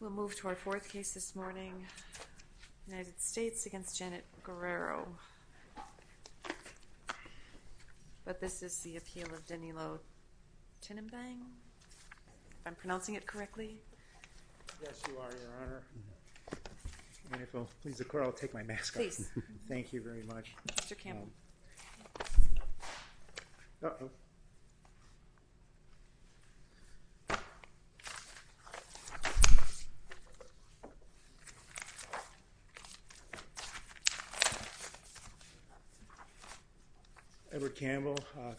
We'll move to our fourth case this morning, United States against Janet Guerrero. But this is the appeal of Danilo Tinimbang, if I'm pronouncing it correctly. Edward Campbell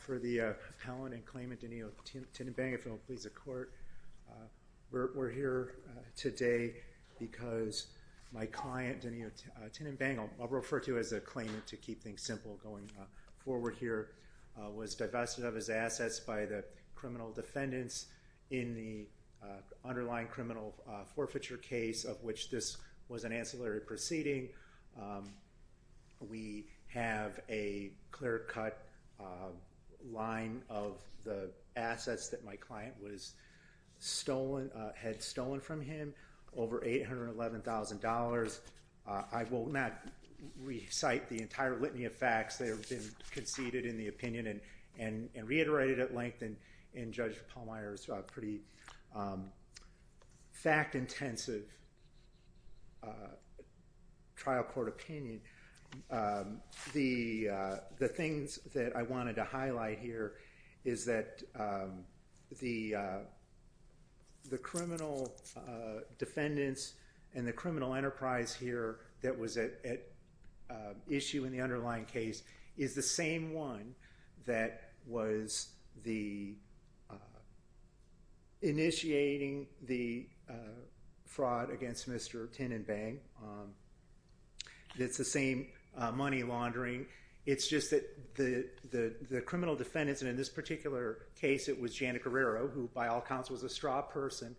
for the appellant and claimant Danilo Tinimbang, if it'll please the court. We're here today because my client, Danilo Tinimbang, I'll refer to as a claimant to keep things simple going forward here, was divested of his assets by the criminal defendants in the underlying criminal forfeiture case of which this was an ancillary proceeding. We have a clear-cut line of the assets that my client had stolen from him, over $811,000. I will not recite the entire litany of facts. They have been conceded in the opinion and Judge Pallmeyer's pretty fact-intensive trial court opinion. The things that I wanted to highlight here is that the criminal defendants and the criminal enterprise here that was at issue in the underlying case is the same one that was initiating the fraud against Mr. Tinimbang. It's the same money laundering. It's just that the criminal defendants, and in this particular case it was Janet Guerrero, who by all counts was a straw person,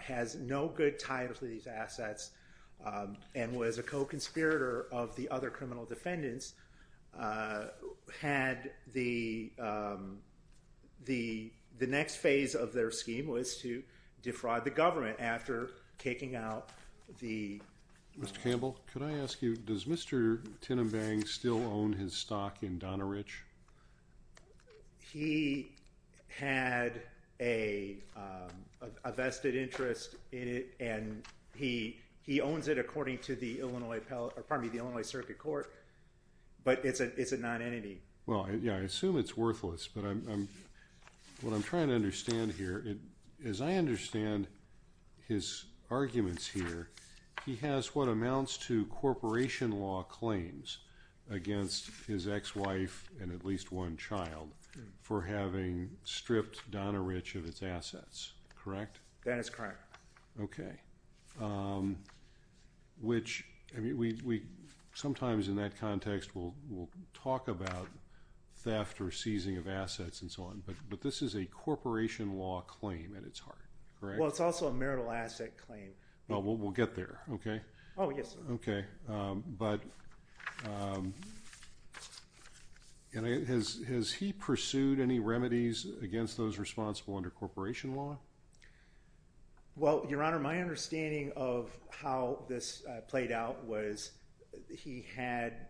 has no good tie to these assets, and was a co-conspirator of the other criminal defendants, had the next phase of their scheme was to defraud the government after taking out the... Mr. Campbell, could I ask you, does Mr. Tinimbang still own his stock in Donna Rich? He had a vested interest in it, and he owns it according to the Illinois Circuit Court, but it's a non-entity. Well, yeah, I assume it's worthless, but what I'm trying to understand here, as I understand his arguments here, he has what amounts to corporation law claims against his ex-wife and at least one child for having stripped Donna Rich of its assets, correct? That is correct. Okay. Which, I mean, sometimes in that context we'll talk about theft or seizing of assets and so on, but this is a corporation law claim at its heart, correct? Well, it's also a marital asset claim. Well, we'll get there, okay? Oh, yes. Okay, but has he pursued any remedies against those responsible under corporation law? Well, Your Honor, my understanding of how this played out was he had,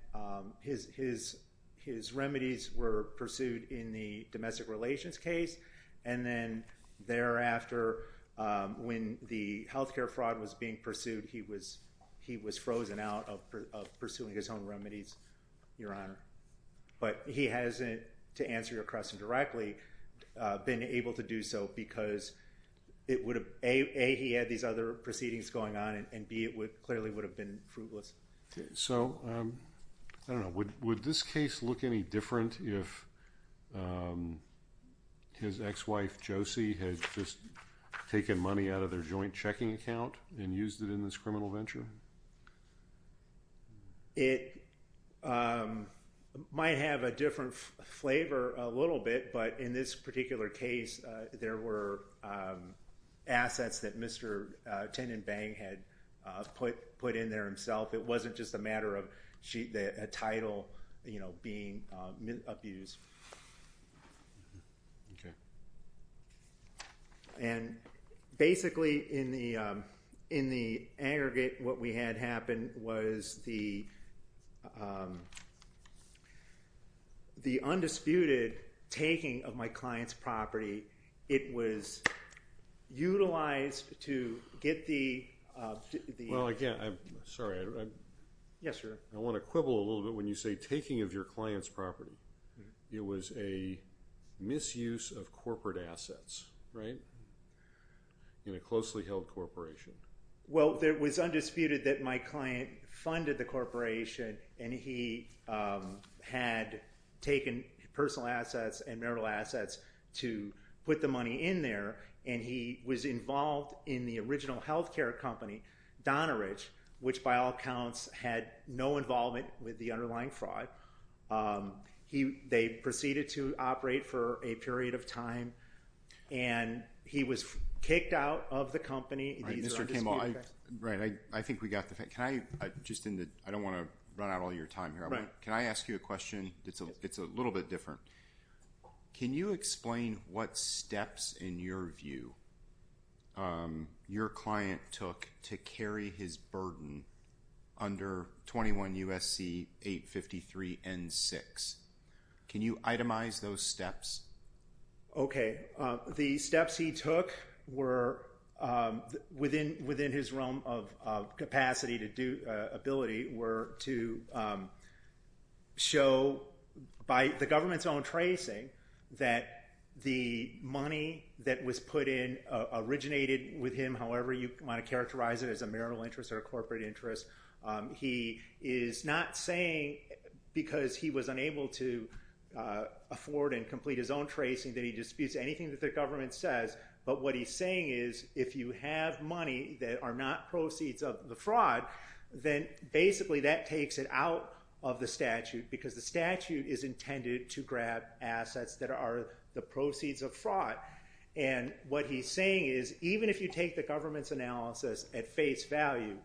his remedies were then thereafter, when the healthcare fraud was being pursued, he was frozen out of pursuing his own remedies, Your Honor, but he hasn't, to answer your question directly, been able to do so because it would have, A, he had these other proceedings going on, and B, it clearly would have been fruitless. So, I don't know, would this case look any different if his ex-wife Josie had just taken money out of their joint checking account and used it in this criminal venture? It might have a different flavor a little bit, but in this particular case, there were some remedies that Mr. Tenenbaum had put in there himself, it wasn't just a matter of a title being abused. Okay. And basically, in the aggregate, what we had happen was the undisputed taking of my client's property, it was utilized to get the, Well, again, I'm sorry, I want to quibble a little bit when you say taking of your client's property, it was a misuse of corporate assets, right? In a closely held corporation. Well, it was undisputed that my client funded the corporation and he had taken personal assets and marital assets to put the money in there, and he was involved in the original health care company, Donneridge, which by all accounts had no involvement with the underlying fraud. They proceeded to operate for a period of time, and he was kicked out of the company. Mr. Tenenbaum, right, I think we got the, can I, just in the, I don't want to run out of your time here. Can I ask you a question that's a little bit different? Can you explain what steps, in your view, your client took to carry his burden under 21 U.S.C. 853 N6? Can you itemize those steps? Okay, the steps he took were, within his realm of capacity to do, ability, were to show by the government's own tracing that the money that was put in originated with him, however you want to characterize it, as a marital interest or a corporate interest. He is not saying, because he was unable to afford and complete his own tracing, that he disputes anything that the government says, but what he's saying is, if you have money that are not proceeds of the fraud, then basically that takes it out of the statute, because the statute is intended to grab assets that are the proceeds of fraud, and what he's saying is, even if you take the government's analysis at face value,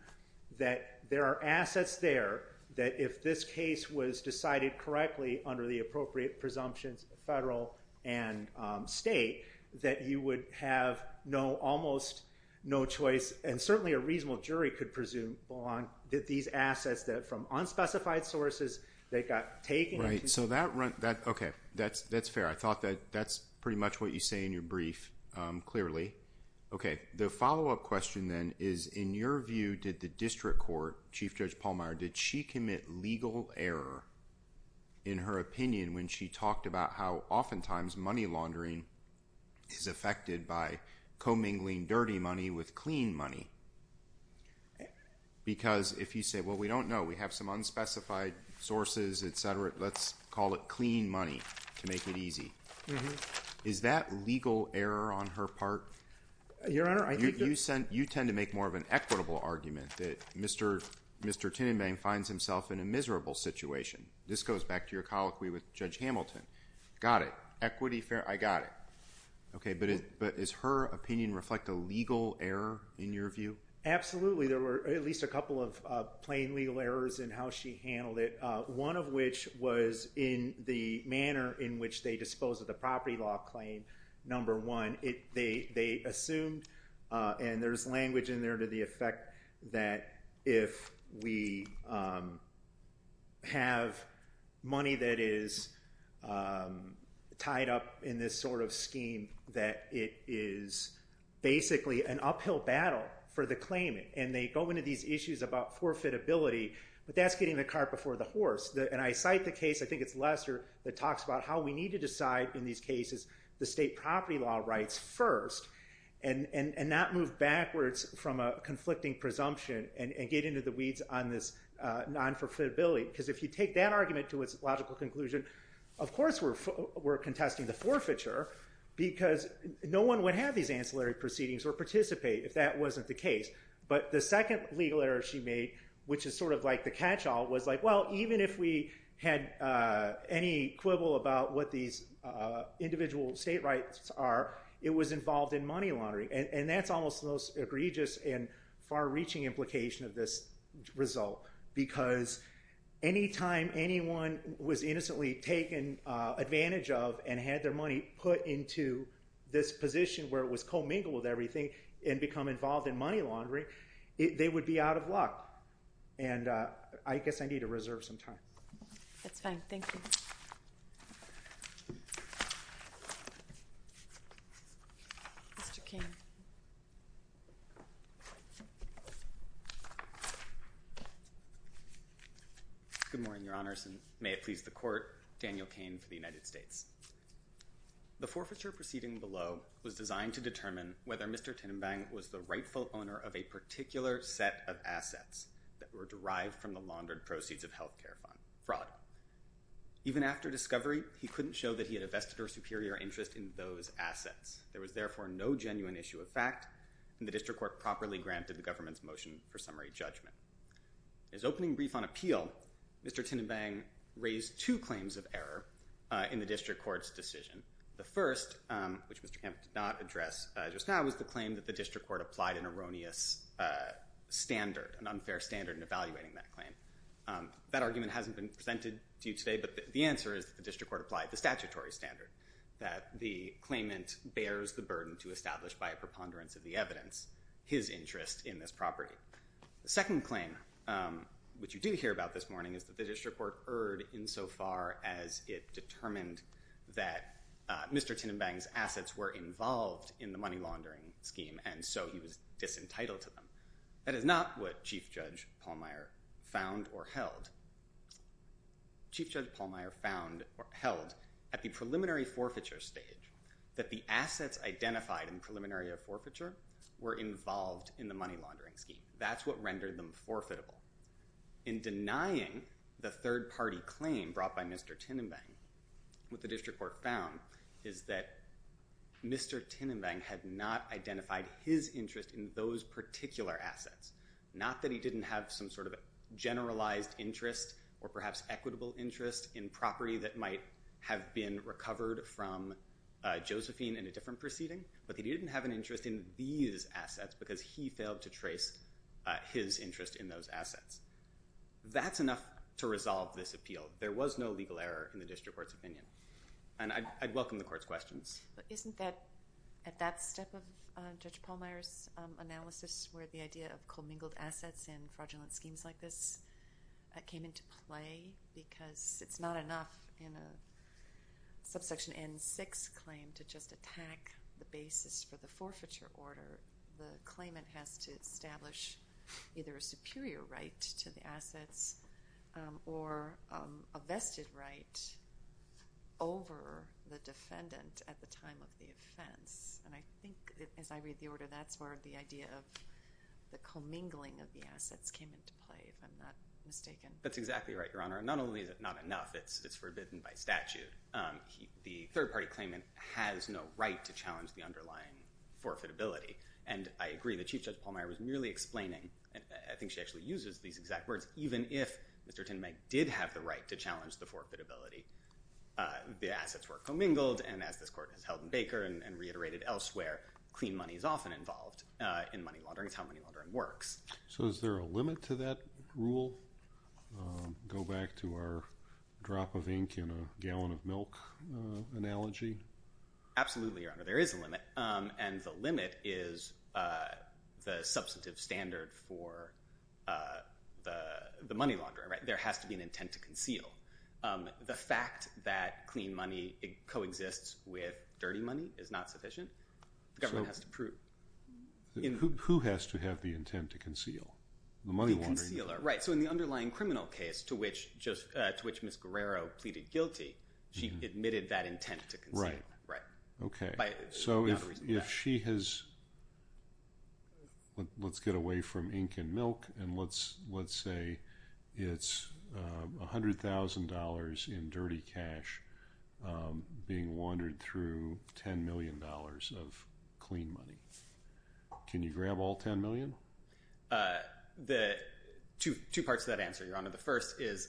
that there are assets there that, if this case was decided correctly under the appropriate presumptions, federal and state, that you would have no, almost no choice, and certainly a reasonable jury could presume on, that these assets that, from unspecified sources, that got taken. Right, so that, okay, that's fair. I thought that that's pretty much what you say in your brief, clearly. Okay, the follow-up question then is, in your view, did the district court, Chief Judge Pallmeyer, did she commit legal error, in her opinion, when she talked about how, oftentimes, money laundering is affected by commingling dirty money with clean money? Because if you say, well, we don't know, we have some unspecified sources, etc., let's call it clean money, to make it easy, is that legal error on her part? Your Honor, I think that... You tend to make more of an equitable argument that Mr. Tinnenbaum finds himself in a miserable situation. This goes back to your colloquy with Judge Hamilton. Got it. Equity, fair, I got it. Okay, but is her opinion reflect a legal error, in your view? Absolutely. There were at least a couple of plain legal errors in how she handled it. One of which was in the manner in which they disposed of the property law claim, number one, they assumed, and there's language in there to the effect that if we have money that is tied up in this sort of scheme, that it is basically an uphill battle for the claimant. And they go into these issues about forfeitability, but that's getting the cart before the horse. And I cite the case, I think it's Lester, that talks about how we need to decide in these cases the state property law rights first, and not move backwards from a conflicting presumption and get into the weeds on this non-forfeitability, because if you take that argument to its logical conclusion, of course we're contesting the forfeiture, because no one would have these ancillary proceedings or participate if that wasn't the case. But the second legal error she made, which is sort of like the catch-all, was like, well, even if we had any quibble about what these individual state rights are, it was involved in money laundering. And that's almost the most egregious and far-reaching implication of this result, because any time anyone was innocently taken advantage of and had their money put into this position where it was commingled with everything and become involved in money laundering, they would be out of luck. And I guess I need to reserve some time. That's fine. Thank you. Mr. Cain. Good morning, Your Honors, and may it please the Court, Daniel Cain for the United States. The forfeiture proceeding below was designed to determine whether Mr. Tinnenbang was the rightful owner of a particular set of assets that were derived from the laundered proceeds of health care fraud. Even after discovery, he couldn't show that he had a vested or superior interest in those assets. There was therefore no genuine issue of fact, and the District Court properly granted the government's motion for summary judgment. In his opening brief on appeal, Mr. Tinnenbang raised two claims of error in the District Court's decision. The first, which Mr. Kemp did not address just now, was the claim that the District Court applied an erroneous standard, an unfair standard, in evaluating that claim. That argument hasn't been presented to you today, but the answer is that the District Court applied the statutory standard, that the claimant bears the burden to establish by a preponderance of the evidence his interest in this property. The second claim, which you do hear about this morning, is that the District Court erred insofar as it determined that Mr. Tinnenbang's assets were involved in the money laundering scheme, and so he was disentitled to them. That is not what Chief Judge Pallmeyer found or held. Chief Judge Pallmeyer found or held, at the preliminary forfeiture stage, that the assets that Mr. Tinnenbang had, that's what rendered them forfeitable. In denying the third-party claim brought by Mr. Tinnenbang, what the District Court found is that Mr. Tinnenbang had not identified his interest in those particular assets. Not that he didn't have some sort of generalized interest or perhaps equitable interest in property that might have been recovered from Josephine in a different proceeding, but he didn't have an interest in these assets because he failed to trace his interest in those assets. That's enough to resolve this appeal. There was no legal error in the District Court's opinion. And I'd welcome the Court's questions. But isn't that, at that step of Judge Pallmeyer's analysis, where the idea of commingled assets and fraudulent schemes like this came into play because it's not enough in a subsection N6 claim to just attack the basis for the forfeiture order. The claimant has to establish either a superior right to the assets or a vested right over the defendant at the time of the offense. And I think, as I read the order, that's where the idea of the commingling of the assets came into play, if I'm not mistaken. That's exactly right, Your Honor. And not only is it not enough, it's forbidden by statute. The third-party claimant has no right to challenge the underlying forfeitability. And I agree that Chief Judge Pallmeyer was merely explaining, and I think she actually uses these exact words, even if Mr. Tindmay did have the right to challenge the forfeitability, the assets were commingled. And as this Court has held in Baker and reiterated elsewhere, clean money is often involved in money laundering. It's how money laundering works. So is there a limit to that rule? Go back to our drop of ink in a gallon of milk analogy. Absolutely, Your Honor. There is a limit. And the limit is the substantive standard for the money launderer, right? There has to be an intent to conceal. The fact that clean money coexists with dirty money is not sufficient. The government has to prove. Who has to have the intent to conceal? The money launderer. The money launderer. Right. So in the underlying criminal case to which Ms. Guerrero pleaded guilty, she admitted that intent to conceal. Right. Right. Okay. So if she has, let's get away from ink and milk and let's say it's $100,000 in dirty cash being laundered through $10 million of clean money. Can you grab all $10 million? Two parts to that answer, Your Honor. The first is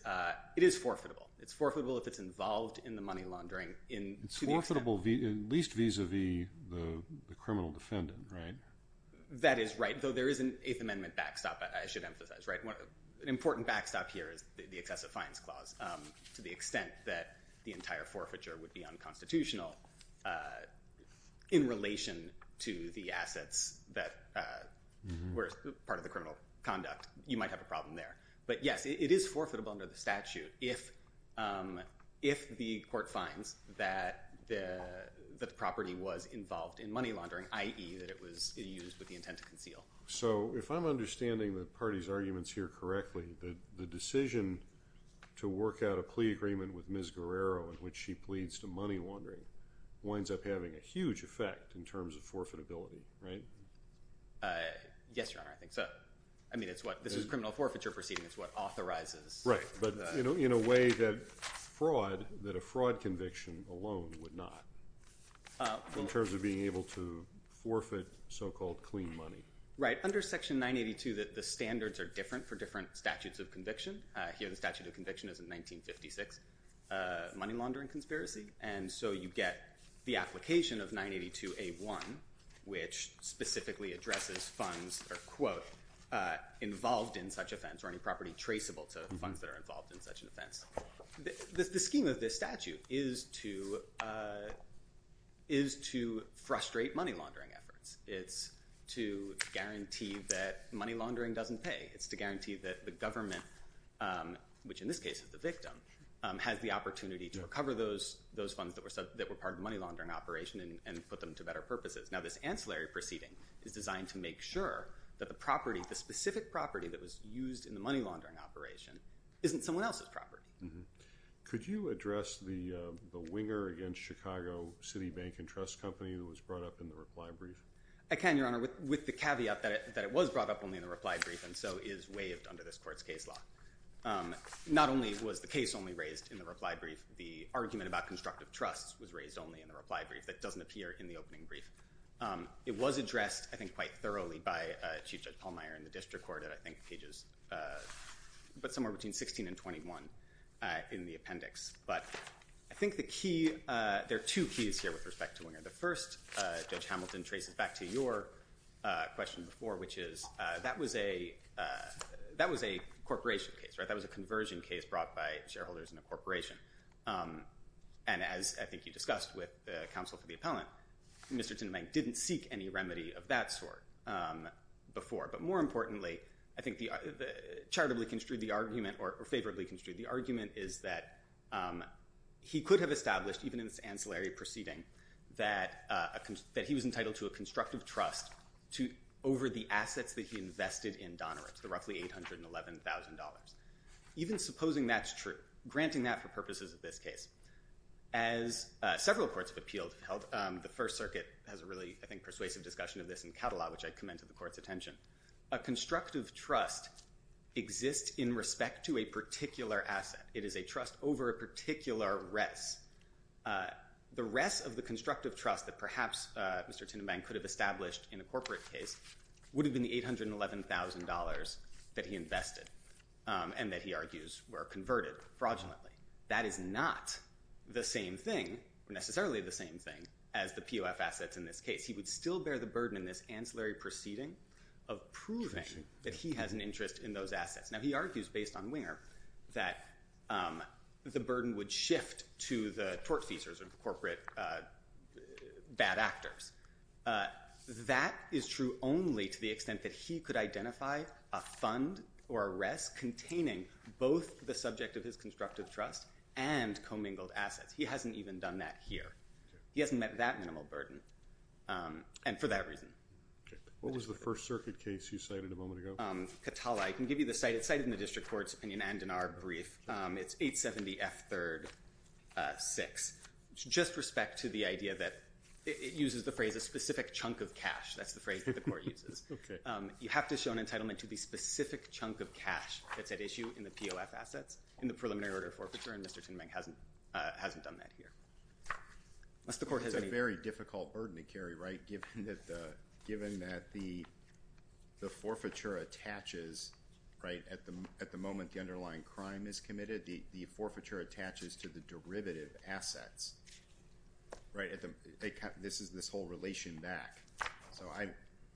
it is forfeitable. It's forfeitable if it's involved in the money laundering. It's forfeitable at least vis-a-vis the criminal defendant, right? That is right, though there is an Eighth Amendment backstop I should emphasize. An important backstop here is the excessive fines clause to the extent that the entire conduct, you might have a problem there. But yes, it is forfeitable under the statute if the court finds that the property was involved in money laundering, i.e. that it was used with the intent to conceal. So if I'm understanding the party's arguments here correctly, the decision to work out a plea agreement with Ms. Guerrero in which she pleads to money laundering winds up having a huge effect in terms of forfeitability, right? Yes, Your Honor. I think so. I mean, this is a criminal forfeiture proceeding. It's what authorizes. Right. But in a way that a fraud conviction alone would not in terms of being able to forfeit so-called clean money. Right. Under Section 982, the standards are different for different statutes of conviction. Here the statute of conviction is a 1956 money laundering conspiracy. And so you get the application of 982A1, which specifically addresses funds, or quote, involved in such offense or any property traceable to funds that are involved in such an offense. The scheme of this statute is to frustrate money laundering efforts. It's to guarantee that money laundering doesn't pay. It's to guarantee that the government, which in this case is the victim, has the opportunity to recover those funds that were part of the money laundering operation and put them to better purposes. Now, this ancillary proceeding is designed to make sure that the property, the specific property that was used in the money laundering operation, isn't someone else's property. Could you address the winger against Chicago City Bank and Trust Company who was brought up in the reply brief? I can, Your Honor, with the caveat that it was brought up only in the reply brief and so is waived under this court's case law. Not only was the case only raised in the reply brief, the argument about constructive trust was raised only in the reply brief. That doesn't appear in the opening brief. It was addressed, I think, quite thoroughly by Chief Judge Pallmeyer in the district court at, I think, pages somewhere between 16 and 21 in the appendix. But I think there are two keys here with respect to winger. The first, Judge Hamilton, traces back to your question before, which is that was a corporation case, right? That was a conversion case brought by shareholders in a corporation. And as I think you discussed with counsel for the appellant, Mr. Tindemay didn't seek any remedy of that sort before. But more importantly, I think charitably construed the argument or favorably construed the argument is that he could have established, even in this ancillary proceeding, that he was entitled to a constructive trust over the assets that he invested in Donorips, the roughly $811,000. Even supposing that's true, granting that for purposes of this case, as several courts have appealed, the First Circuit has a really, I think, persuasive discussion of this in Cadillac, which I commend to the court's attention. A constructive trust exists in respect to a particular asset. It is a trust over a particular rest. The rest of the constructive trust that perhaps Mr. Tindemay could have established in a corporate case would have been the $811,000 that he invested and that he argues were converted fraudulently. That is not the same thing, necessarily the same thing, as the POF assets in this case. He would still bear the burden in this ancillary proceeding of proving that he has an interest in those assets. Now, he argues, based on Winger, that the burden would shift to the tortfeasors or the corporate bad actors. That is true only to the extent that he could identify a fund or a rest containing both the subject of his constructive trust and commingled assets. He hasn't even done that here. He hasn't met that minimal burden, and for that reason. What was the First Circuit case you cited a moment ago? Katala. I can give you the site. It is cited in the District Court's opinion and in our brief. It is 870F3-6. Just respect to the idea that it uses the phrase, a specific chunk of cash. That is the phrase that the Court uses. You have to show an entitlement to the specific chunk of cash that is at issue in the POF assets in the preliminary order of forfeiture, and Mr. Tindemay hasn't done that here. It is a very difficult burden to carry, right, given that the forfeiture attaches, right, at the moment the underlying crime is committed, the forfeiture attaches to the derivative assets, right? This is this whole relation back.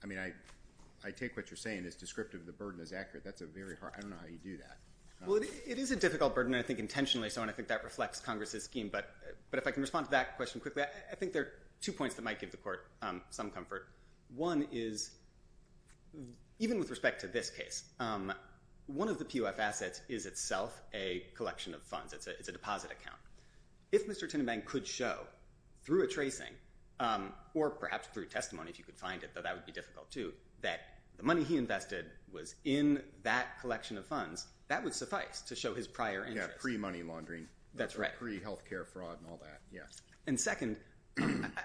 I mean, I take what you're saying as descriptive. The burden is accurate. That's a very hard one. I don't know how you do that. Well, it is a difficult burden, I think, intentionally, so I think that reflects Congress's scheme. But if I can respond to that question quickly, I think there are two points that might give the Court some comfort. One is even with respect to this case, one of the POF assets is itself a collection of funds. It's a deposit account. If Mr. Tindemay could show through a tracing, or perhaps through testimony if you could find it, though that would be difficult too, that the money he invested was in that collection of funds, that would suffice to show his prior interest. Yeah, pre-money laundering. That's right. Pre-healthcare fraud and all that, yeah. And second,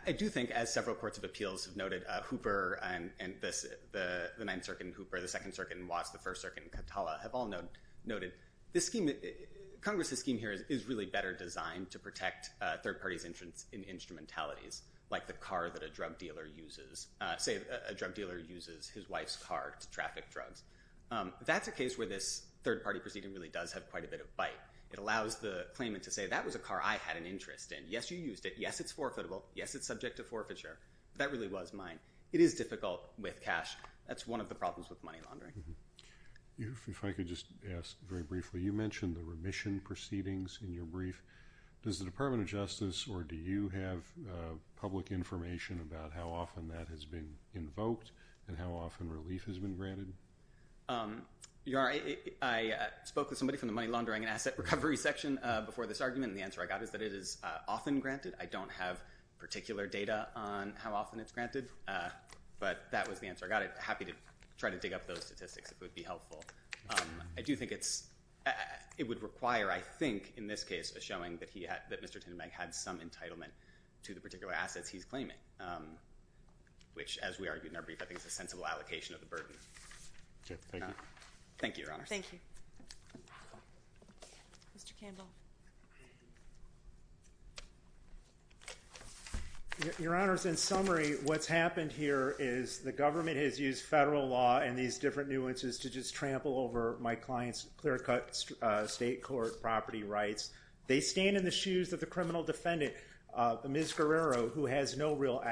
I do think, as several courts of appeals have noted, Hooper and the Ninth Circuit in Hooper, the Second Circuit in Watts, the First Circuit in Catala have all noted, Congress's scheme here is really better designed to protect third parties' interest in instrumentalities, like the car that a drug dealer uses. Say a drug dealer uses his wife's car to traffic drugs. That's a case where this third-party proceeding really does have quite a bit of bite. It allows the claimant to say, that was a car I had an interest in. Yes, you used it. Yes, it's forfeitable. Yes, it's subject to forfeiture. That really was mine. It is difficult with cash. That's one of the problems with money laundering. If I could just ask very briefly, you mentioned the remission proceedings in your brief. Does the Department of Justice, or do you have public information about how often that has been invoked and how often relief has been granted? I spoke with somebody from the money laundering and asset recovery section before this argument, and the answer I got is that it is often granted. I don't have particular data on how often it's granted, but that was the answer I got. I'd be happy to try to dig up those statistics if it would be helpful. I do think it would require, I think, in this case, a showing that Mr. Tinderbag had some entitlement to the particular assets he's claiming, which, as we argued in our brief, I think is a sensible allocation of the burden. Thank you. Thank you, Your Honor. Thank you. Mr. Candle. Your Honor, in summary, what's happened here is the government has used federal law and these different nuances to just trample over my client's clear-cut state court property rights. They stand in the shoes of the criminal defendant, Ms. Guerrero, who has no real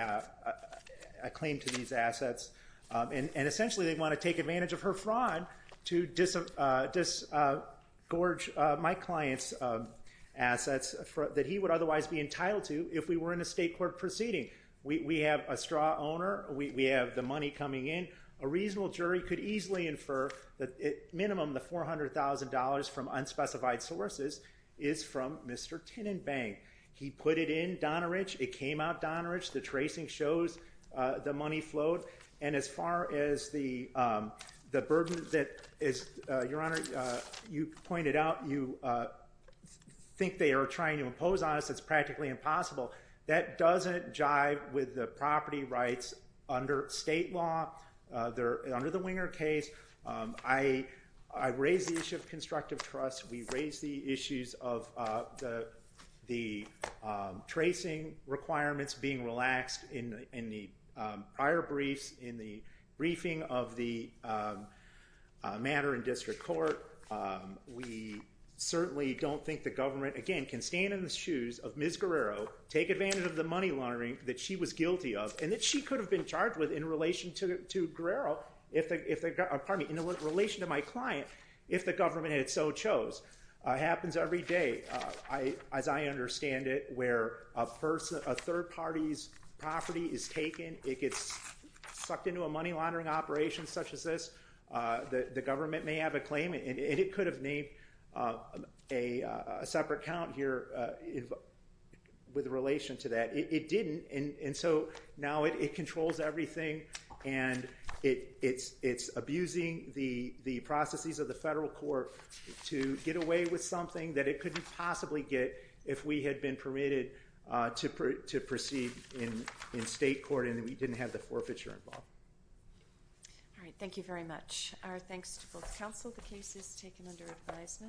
claim to these assets, and essentially they want to take advantage of her fraud to disgorge my client's assets that he would otherwise be entitled to if we were in a state court proceeding. We have a straw owner. We have the money coming in. A reasonable jury could easily infer that at minimum the $400,000 from unspecified sources is from Mr. Tinderbag. He put it in Donneridge. It came out Donneridge. The tracing shows the money flowed. And as far as the burden that, Your Honor, you pointed out, you think they are trying to impose on us, it's practically impossible. That doesn't jive with the property rights under state law. Under the Winger case, I raised the issue of constructive trust. We raised the issues of the tracing requirements being relaxed in the prior briefs, in the briefing of the matter in district court. We certainly don't think the government, again, can stand in the shoes of Ms. Guerrero, take advantage of the money laundering that she was guilty of, and that she could have been charged with in relation to Guerrero, pardon me, in relation to my client, if the government had so chose. It happens every day, as I understand it, where a third party's property is taken, it gets sucked into a money laundering operation such as this. The government may have a claim, and it could have made a separate count here with relation to that. It didn't, and so now it controls everything, and it's abusing the processes of the federal court to get away with something that it couldn't possibly get if we had been permitted to proceed in state court and we didn't have the forfeiture involved. All right, thank you very much. Our thanks to both counsel. The case is taken under advisement.